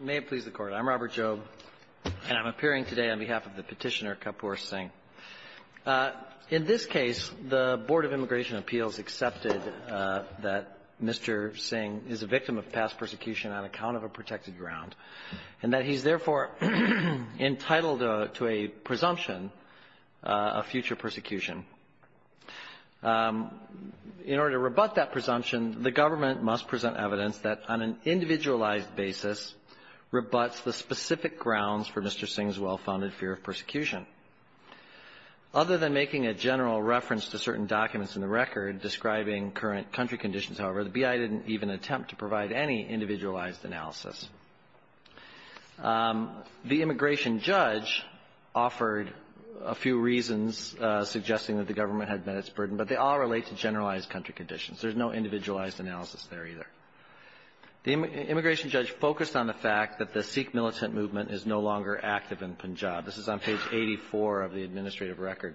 May it please the Court. I'm Robert Jobe, and I'm appearing today on behalf of the petitioner Kapoor Singh. In this case, the Board of Immigration Appeals accepted that Mr. Singh is a victim of past persecution on account of a protected ground, and that he's therefore entitled to a presumption of future persecution. In order to rebut that presumption, the government must present evidence that on an individualized basis rebuts the specific grounds for Mr. Singh's well-founded fear of persecution. Other than making a general reference to certain documents in the record describing current country conditions, however, the B.I. didn't even attempt to provide any individualized analysis. The immigration judge offered a few reasons suggesting that the government had met its burden, but they all relate to generalized country conditions. There's no individualized analysis there either. The immigration judge focused on the fact that the Sikh militant movement is no longer active in Punjab. This is on page 84 of the administrative record.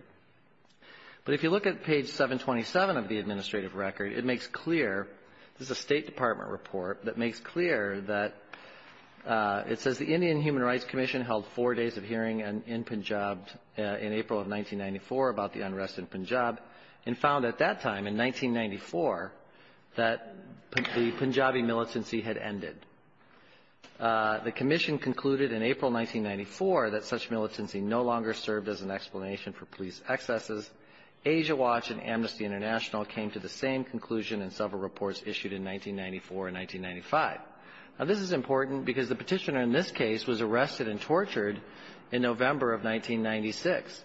But if you look at page 727 of the administrative record, it makes clear this is a State Department report that makes clear that it says the Indian Human Rights Commission held four days of hearing in Punjab in April of 1994 about the unrest in Punjab and found at that time in 1994 that the Punjabi militancy had ended. The commission concluded in April 1994 that such militancy no longer served as an explanation for police excesses. Asia Watch and Amnesty International came to the same conclusion in several reports issued in 1994 and 1995. Now, this is important because the Petitioner in this case was arrested and tortured in November of 1996.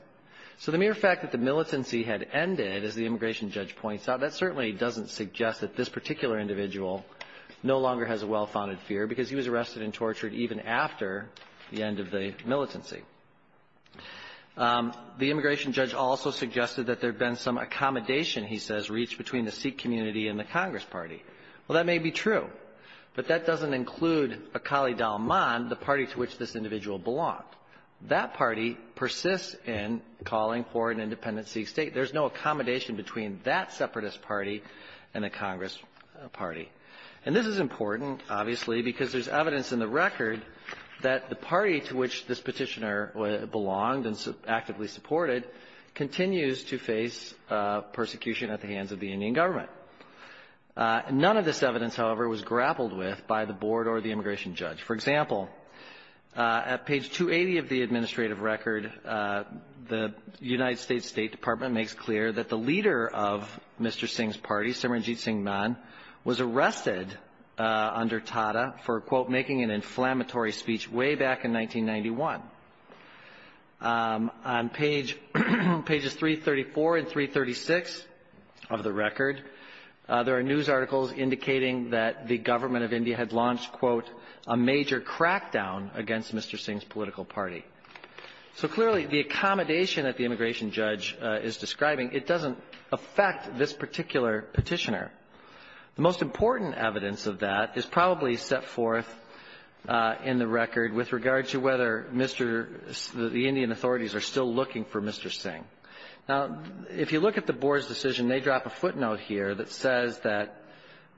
So the mere fact that the militancy had ended, as the immigration judge points out, that certainly doesn't suggest that this particular individual no longer has a well-founded fear because he was arrested and tortured even after the end of the militancy. The immigration judge also suggested that there had been some accommodation, he says, reached between the Sikh community and the Congress party. Well, that may be true, but that doesn't include Akali Dalman, the party to which this individual belonged. That party persists in calling for an independent Sikh State. There's no accommodation between that separatist party and the Congress party. And this is important, obviously, because there's evidence in the record that the party to which this Petitioner belonged and actively supported continues to face persecution at the hands of the Indian government. None of this evidence, however, was grappled with by the board or the immigration judge. For example, at page 280 of the administrative record, the United States State Department makes clear that the leader of Mr. Singh's party, Simranjit Singh Mann, was arrested under Tata for, quote, making an inflammatory speech way back in 1991. On page – pages 334 and 336 of the record, there are news articles indicating that the government of India had launched, quote, a major crackdown against Mr. Singh's political party. So clearly, the accommodation that the immigration judge is describing, it doesn't affect this particular Petitioner. The most important evidence of that is probably set forth in the record with regard to whether Mr. – the Indian authorities are still looking for Mr. Singh. Now, if you look at the board's decision, they drop a footnote here that says that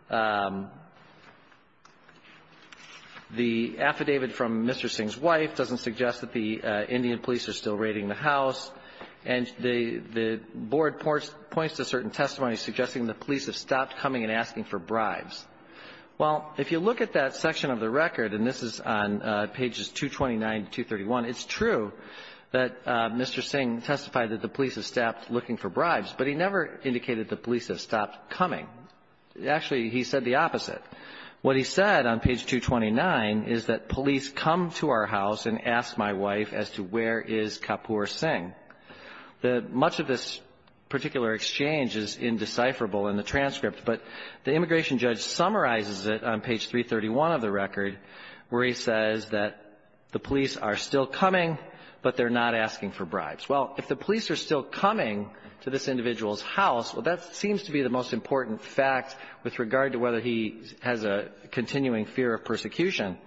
the affidavit from Mr. Singh's wife doesn't suggest that the Indian police are still raiding the house. And the board points to certain testimonies suggesting the police have stopped coming and asking for bribes. Well, if you look at that section of the record, and this is on pages 229 to 231, it's true that Mr. Singh testified that the police have stopped looking for bribes, but he never indicated the police have stopped coming. Actually, he said the opposite. What he said on page 229 is that police come to our house and ask my wife as to where is Kapoor Singh. Much of this particular exchange is indecipherable in the transcript, but the immigration judge summarizes it on page 331 of the record, where he says that the police are still coming, Well, if the police are still coming to this individual's house, well, that seems to be the most important fact with regard to whether he has a continuing fear of persecution.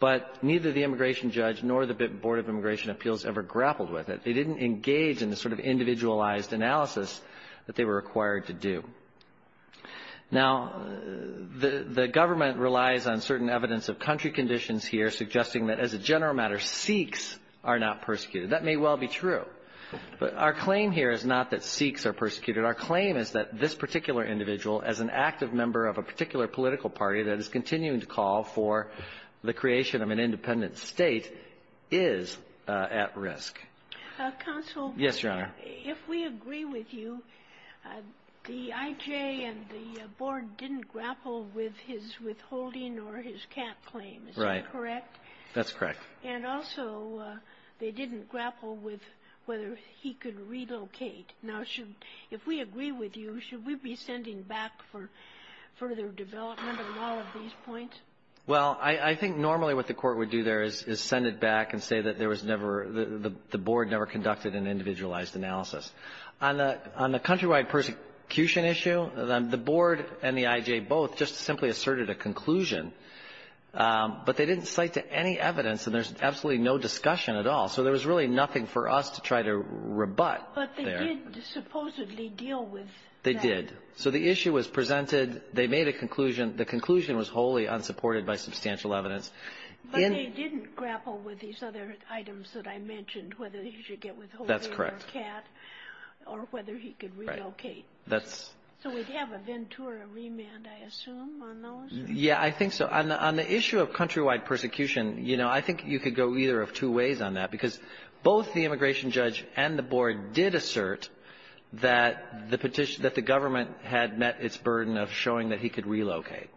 But neither the immigration judge nor the Board of Immigration Appeals ever grappled with it. They didn't engage in the sort of individualized analysis that they were required to do. Now, the government relies on certain evidence of country conditions here suggesting that, as a general matter, Sikhs are not persecuted. That may well be true, but our claim here is not that Sikhs are persecuted. Our claim is that this particular individual, as an active member of a particular political party that is continuing to call for the creation of an independent state, is at risk. Counsel. Yes, Your Honor. If we agree with you, the IJ and the Board didn't grapple with his withholding or his cap claim. Right. Is that correct? That's correct. And also, they didn't grapple with whether he could relocate. Now, should we be sending back for further development on all of these points? Well, I think normally what the Court would do there is send it back and say that there was never the Board never conducted an individualized analysis. On the countrywide persecution issue, the Board and the IJ both just simply asserted a conclusion, but they didn't cite to any evidence, and there's absolutely no discussion at all. So there was really nothing for us to try to rebut there. But they did supposedly deal with that. They did. So the issue was presented. They made a conclusion. The conclusion was wholly unsupported by substantial evidence. But they didn't grapple with these other items that I mentioned, whether he should get withholding or cap, or whether he could relocate. Right. That's so we'd have a Ventura remand, I assume, on those? Yeah, I think so. On the issue of countrywide persecution, you know, I think you could go either of two ways on that, because both the immigration judge and the Board did assert that the petition that the government had met its burden of showing that he could relocate.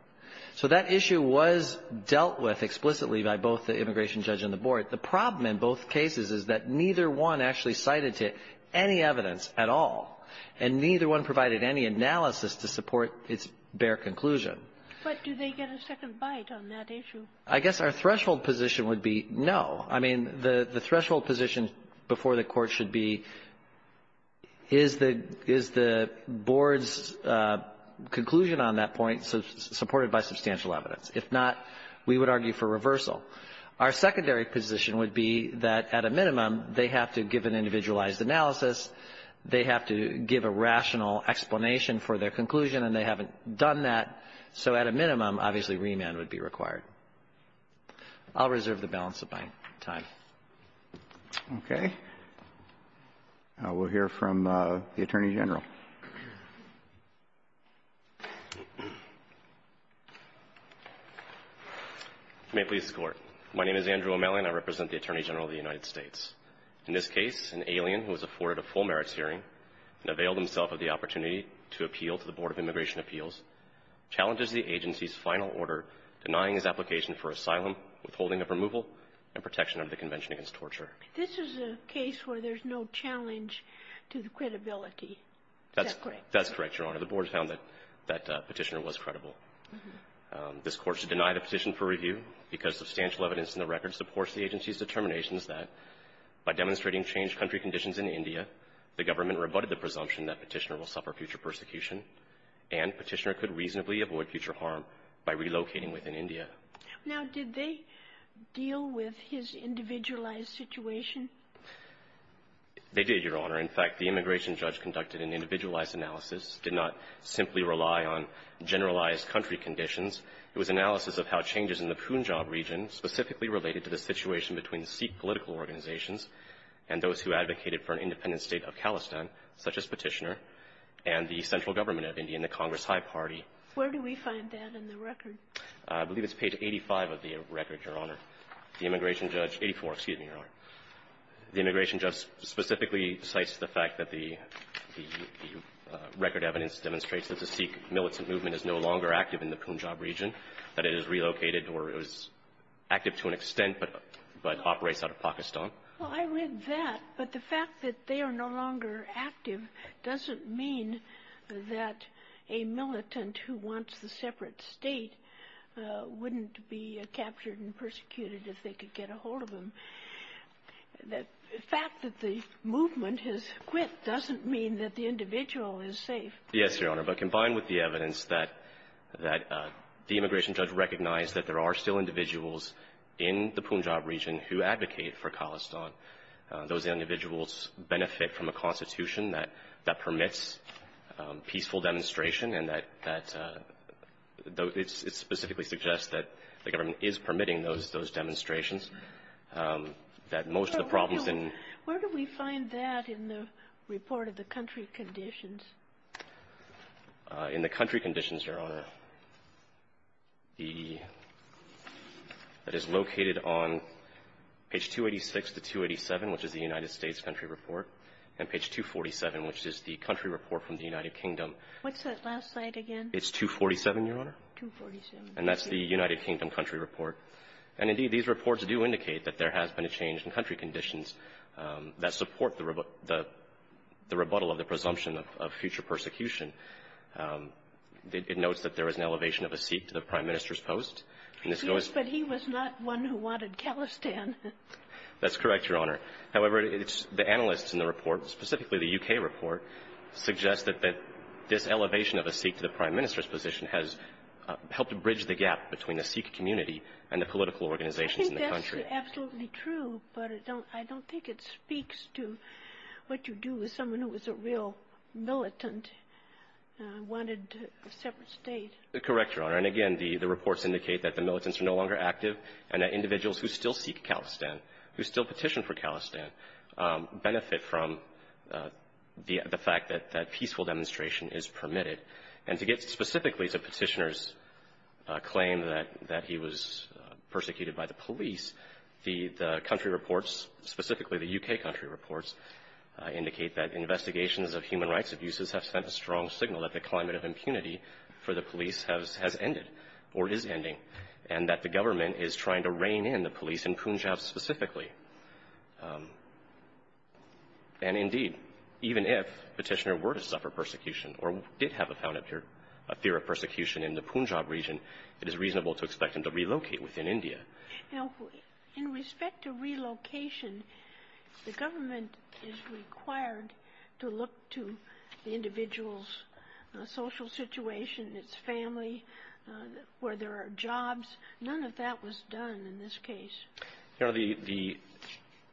So that issue was dealt with explicitly by both the immigration judge and the Board. The problem in both cases is that neither one actually cited to any evidence at all, and neither one provided any analysis to support its bare conclusion. But do they get a second bite on that issue? I guess our threshold position would be no. I mean, the threshold position before the Court should be, is the Board's conclusion on that point supported by substantial evidence. If not, we would argue for reversal. Our secondary position would be that, at a minimum, they have to give an individualized analysis, they have to give a rational explanation for their conclusion, and they haven't done that. So at a minimum, obviously, remand would be required. I'll reserve the balance of my time. Okay. We'll hear from the Attorney General. May it please the Court. My name is Andrew O'Malley, and I represent the Attorney General of the United States. In this case, an alien who has afforded a full merits hearing and availed himself of the opportunity to appeal to the Board of Immigration Appeals challenges the agency's final order denying his application for asylum, withholding of removal, and protection under the Convention Against Torture. This is a case where there's no challenge to the credibility. Is that correct? That's correct, Your Honor. The Board found that Petitioner was credible. This Court should deny the petition for review because substantial evidence in the record supports the agency's determinations that, by demonstrating changed country conditions in India, the government rebutted the presumption that Petitioner will suffer future persecution, and Petitioner could reasonably avoid future harm by relocating within India. Now, did they deal with his individualized situation? They did, Your Honor. In fact, the immigration judge conducted an individualized analysis, did not simply rely on generalized country conditions. It was analysis of how changes in the Punjab region, specifically related to the situation between Sikh political organizations and those who advocated for an independent state of Khalistan, such as Petitioner, and the central government of India and the Congress High Party. Where do we find that in the record? I believe it's page 85 of the record, Your Honor. The immigration judge, 84, excuse me, Your Honor. The immigration judge specifically cites the fact that the record evidence demonstrates that the Sikh militant movement is no longer active in the Punjab region, that it has relocated or is active to an extent but operates out of Pakistan. Well, I read that, but the fact that they are no longer active doesn't mean that a militant who wants a separate state wouldn't be captured and persecuted if they could get a hold of them. The fact that the movement has quit doesn't mean that the individual is safe. Yes, Your Honor. But combined with the evidence that the immigration judge recognized that there are still individuals in the Punjab region who advocate for Khalistan, those individuals benefit from a constitution that permits peaceful demonstration and that it specifically suggests that the government is permitting those demonstrations, that most of the problems in the region. Where do we find that in the report of the country conditions? In the country conditions, Your Honor, that is located on page 286 to 287, which is the United States country report, and page 247, which is the country report from the United Kingdom. What's that last slide again? It's 247, Your Honor. 247. And that's the United Kingdom country report. And, indeed, these reports do indicate that there has been a change in country conditions that support the rebuttal of the presumption of future persecution. It notes that there is an elevation of a seat to the prime minister's post. Yes, but he was not one who wanted Khalistan. That's correct, Your Honor. However, the analysts in the report, specifically the U.K. report, suggest that this elevation of a seat to the prime minister's position has helped bridge the gap between the Sikh community and the political organizations in the country. I think that's absolutely true, but I don't think it speaks to what you do with someone who was a real militant, wanted a separate state. Correct, Your Honor. And, again, the reports indicate that the militants are no longer active and that Khalistan, who still petitioned for Khalistan, benefit from the fact that peaceful demonstration is permitted. And to get specifically to Petitioner's claim that he was persecuted by the police, the country reports, specifically the U.K. country reports, indicate that investigations of human rights abuses have sent a strong signal that the climate of impunity for the police has ended or is ending and that the government is trying to rein in the police in Punjab specifically. And, indeed, even if Petitioner were to suffer persecution or did have a found fear of persecution in the Punjab region, it is reasonable to expect him to relocate within India. Now, in respect to relocation, the government is required to look to the individual's social situation, its family, where there are jobs. None of that was done in this case. Your Honor,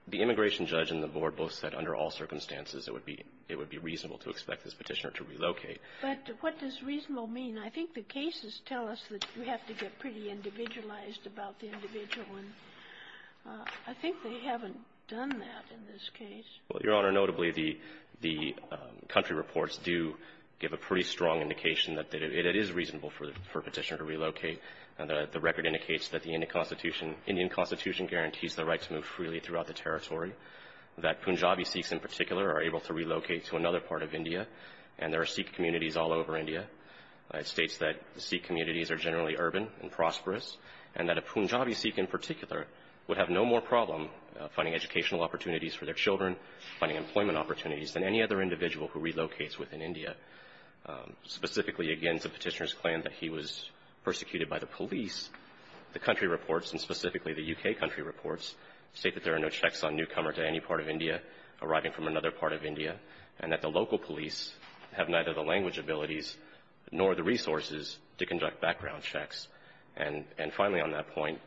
the immigration judge and the board both said under all circumstances it would be reasonable to expect this Petitioner to relocate. But what does reasonable mean? I think the cases tell us that you have to get pretty individualized about the individual. And I think they haven't done that in this case. Well, Your Honor, notably, the country reports do give a pretty strong indication that it is reasonable for Petitioner to relocate. The record indicates that the Indian Constitution guarantees the right to move freely throughout the territory, that Punjabi Sikhs in particular are able to relocate to another part of India, and there are Sikh communities all over India. It states that Sikh communities are generally urban and prosperous, and that a Punjabi Sikh in particular would have no more problem finding educational opportunities for their children, finding employment opportunities than any other individual who relocates within India. Specifically against the Petitioner's claim that he was persecuted by the police, the country reports, and specifically the U.K. country reports, state that there are no checks on newcomers to any part of India arriving from another part of India, and that the local police have neither the language abilities nor the resources to conduct background checks. And finally on that point,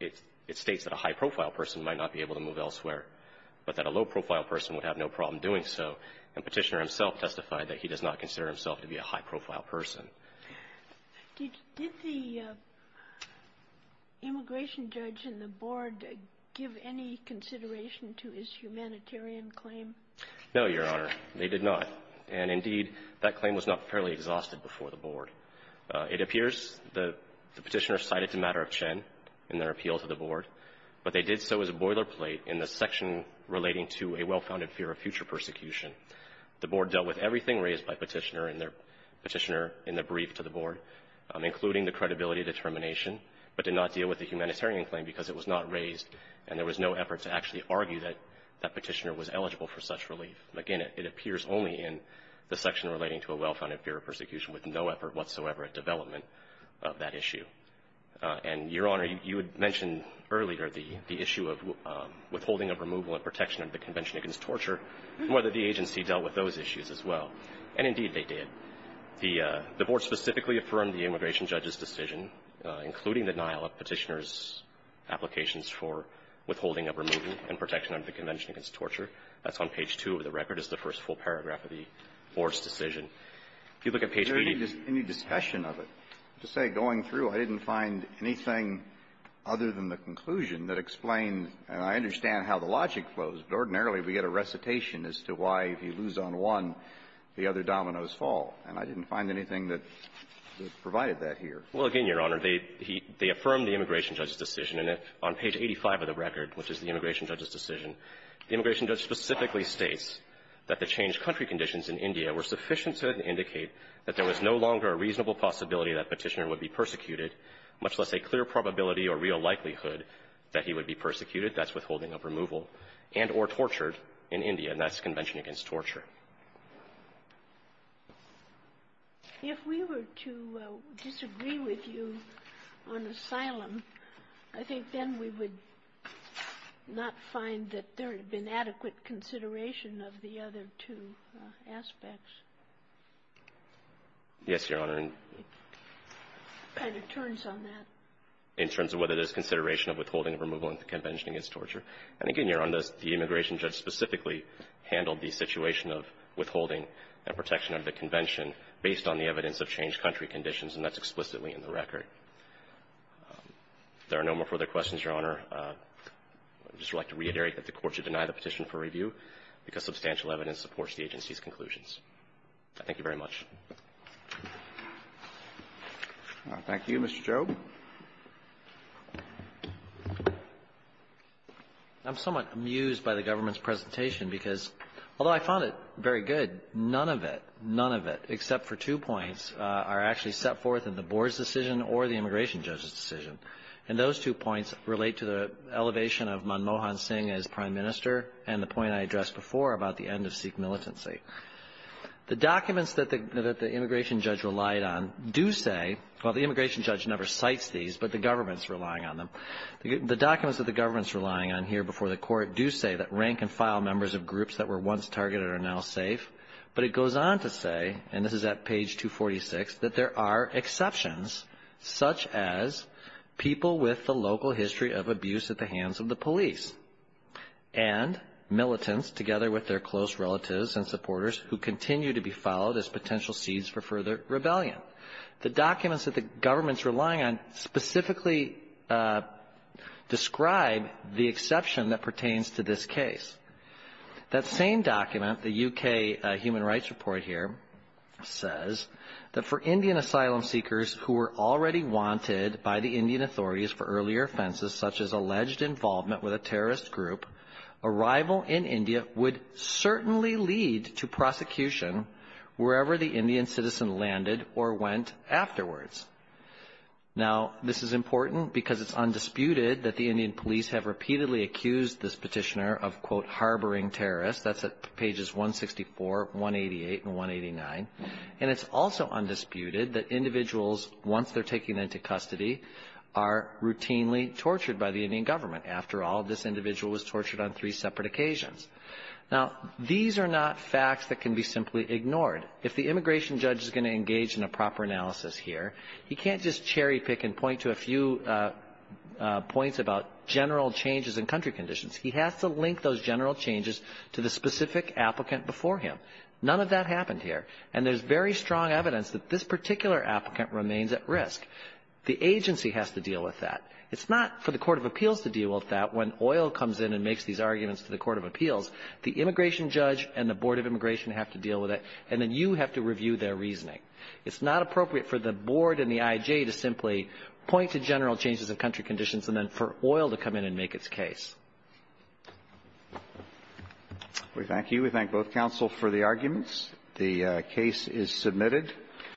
it states that a high-profile person might not be able to move elsewhere, but that a low-profile person would have no problem doing so. And Petitioner himself testified that he does not consider himself to be a high-profile person. Did the immigration judge and the board give any consideration to his humanitarian claim? No, Your Honor, they did not. And indeed, that claim was not fairly exhausted before the board. It appears the Petitioner cited the matter of Chen in their appeal to the board, but they did so as a boilerplate in the section relating to a well-founded fear of future persecution. The board dealt with everything raised by Petitioner in their Petitioner in the brief to the board, including the credibility determination, but did not deal with the humanitarian claim because it was not raised and there was no effort to actually argue that that Petitioner was eligible for such relief. Again, it appears only in the section relating to a well-founded fear of persecution with no effort whatsoever at development of that issue. And, Your Honor, you had mentioned earlier the issue of withholding of removal and protection under the Convention against Torture and whether the agency dealt with those issues as well. And indeed, they did. The board specifically affirmed the immigration judge's decision, including the denial of Petitioner's applications for withholding of removal and protection under the Convention against Torture. That's on page 2 of the record. It's the first full paragraph of the board's decision. If you look at page 3 of the record, it's the first full paragraph of the board's decision. Kennedy. There isn't any discussion of it. To say going through, I didn't find anything other than the conclusion that explained and I understand how the logic flows, but ordinarily we get a recitation as to why if you lose on one, the other dominoes fall. And I didn't find anything that provided that here. Well, again, Your Honor, they affirmed the immigration judge's decision. And on page 85 of the record, which is the immigration judge's decision, the immigration judge specifically states that the changed country conditions in India were sufficient to indicate that there was no longer a reasonable possibility that Petitioner would be persecuted, much less a clear probability or real likelihood that he would be persecuted, that's withholding of removal, and or tortured in India, and that's the Convention against Torture. If we were to disagree with you on asylum, I think then we would not find that there had been adequate consideration of the other two aspects. Yes, Your Honor. It kind of turns on that. In terms of whether there's consideration of withholding of removal in the Convention against Torture, and again, Your Honor, the immigration judge specifically handled the situation of withholding and protection under the Convention based on the evidence of changed country conditions, and that's explicitly in the record. If there are no more further questions, Your Honor, I would just like to reiterate that the Court should deny the petition for review because substantial evidence supports the agency's conclusions. Thank you very much. Thank you, Mr. Chau. I'm somewhat amused by the government's presentation because, although I found it very good, none of it, none of it, except for two points, are actually set forth in the board's decision or the immigration judge's decision. And those two points relate to the elevation of Manmohan Singh as prime minister and the point I addressed before about the end of Sikh militancy. The documents that the immigration judge relied on do say, well, the immigration judge never cites these, but the government's relying on them. The documents that the government's relying on here before the Court do say that rank-and-file members of groups that were once targeted are now safe, but it goes on to say, and this is at page 246, that there are exceptions, such as people with the local history of abuse at the hands of the police and militants, together with their close relatives and supporters, who continue to be followed as potential seeds for further rebellion. The documents that the government's relying on specifically describe the exception that pertains to this case. That same document, the U.K. Human Rights Report here, says that for Indian asylum seekers who were already wanted by the Indian authorities for earlier it would certainly lead to prosecution wherever the Indian citizen landed or went afterwards. Now, this is important because it's undisputed that the Indian police have repeatedly accused this petitioner of, quote, harboring terrorists. That's at pages 164, 188, and 189. And it's also undisputed that individuals, once they're taken into custody, are routinely tortured by the Indian government. After all, this individual was tortured on three separate occasions. Now, these are not facts that can be simply ignored. If the immigration judge is going to engage in a proper analysis here, he can't just cherry-pick and point to a few points about general changes in country conditions. He has to link those general changes to the specific applicant before him. None of that happened here. And there's very strong evidence that this particular applicant remains at risk. The agency has to deal with that. It's not for the court of appeals to deal with that when Oyl comes in and makes these arguments to the court of appeals. The immigration judge and the board of immigration have to deal with it, and then you have to review their reasoning. It's not appropriate for the board and the I.J. to simply point to general changes of country conditions and then for Oyl to come in and make its case. Roberts. We thank you. We thank both counsel for the arguments. The case is submitted.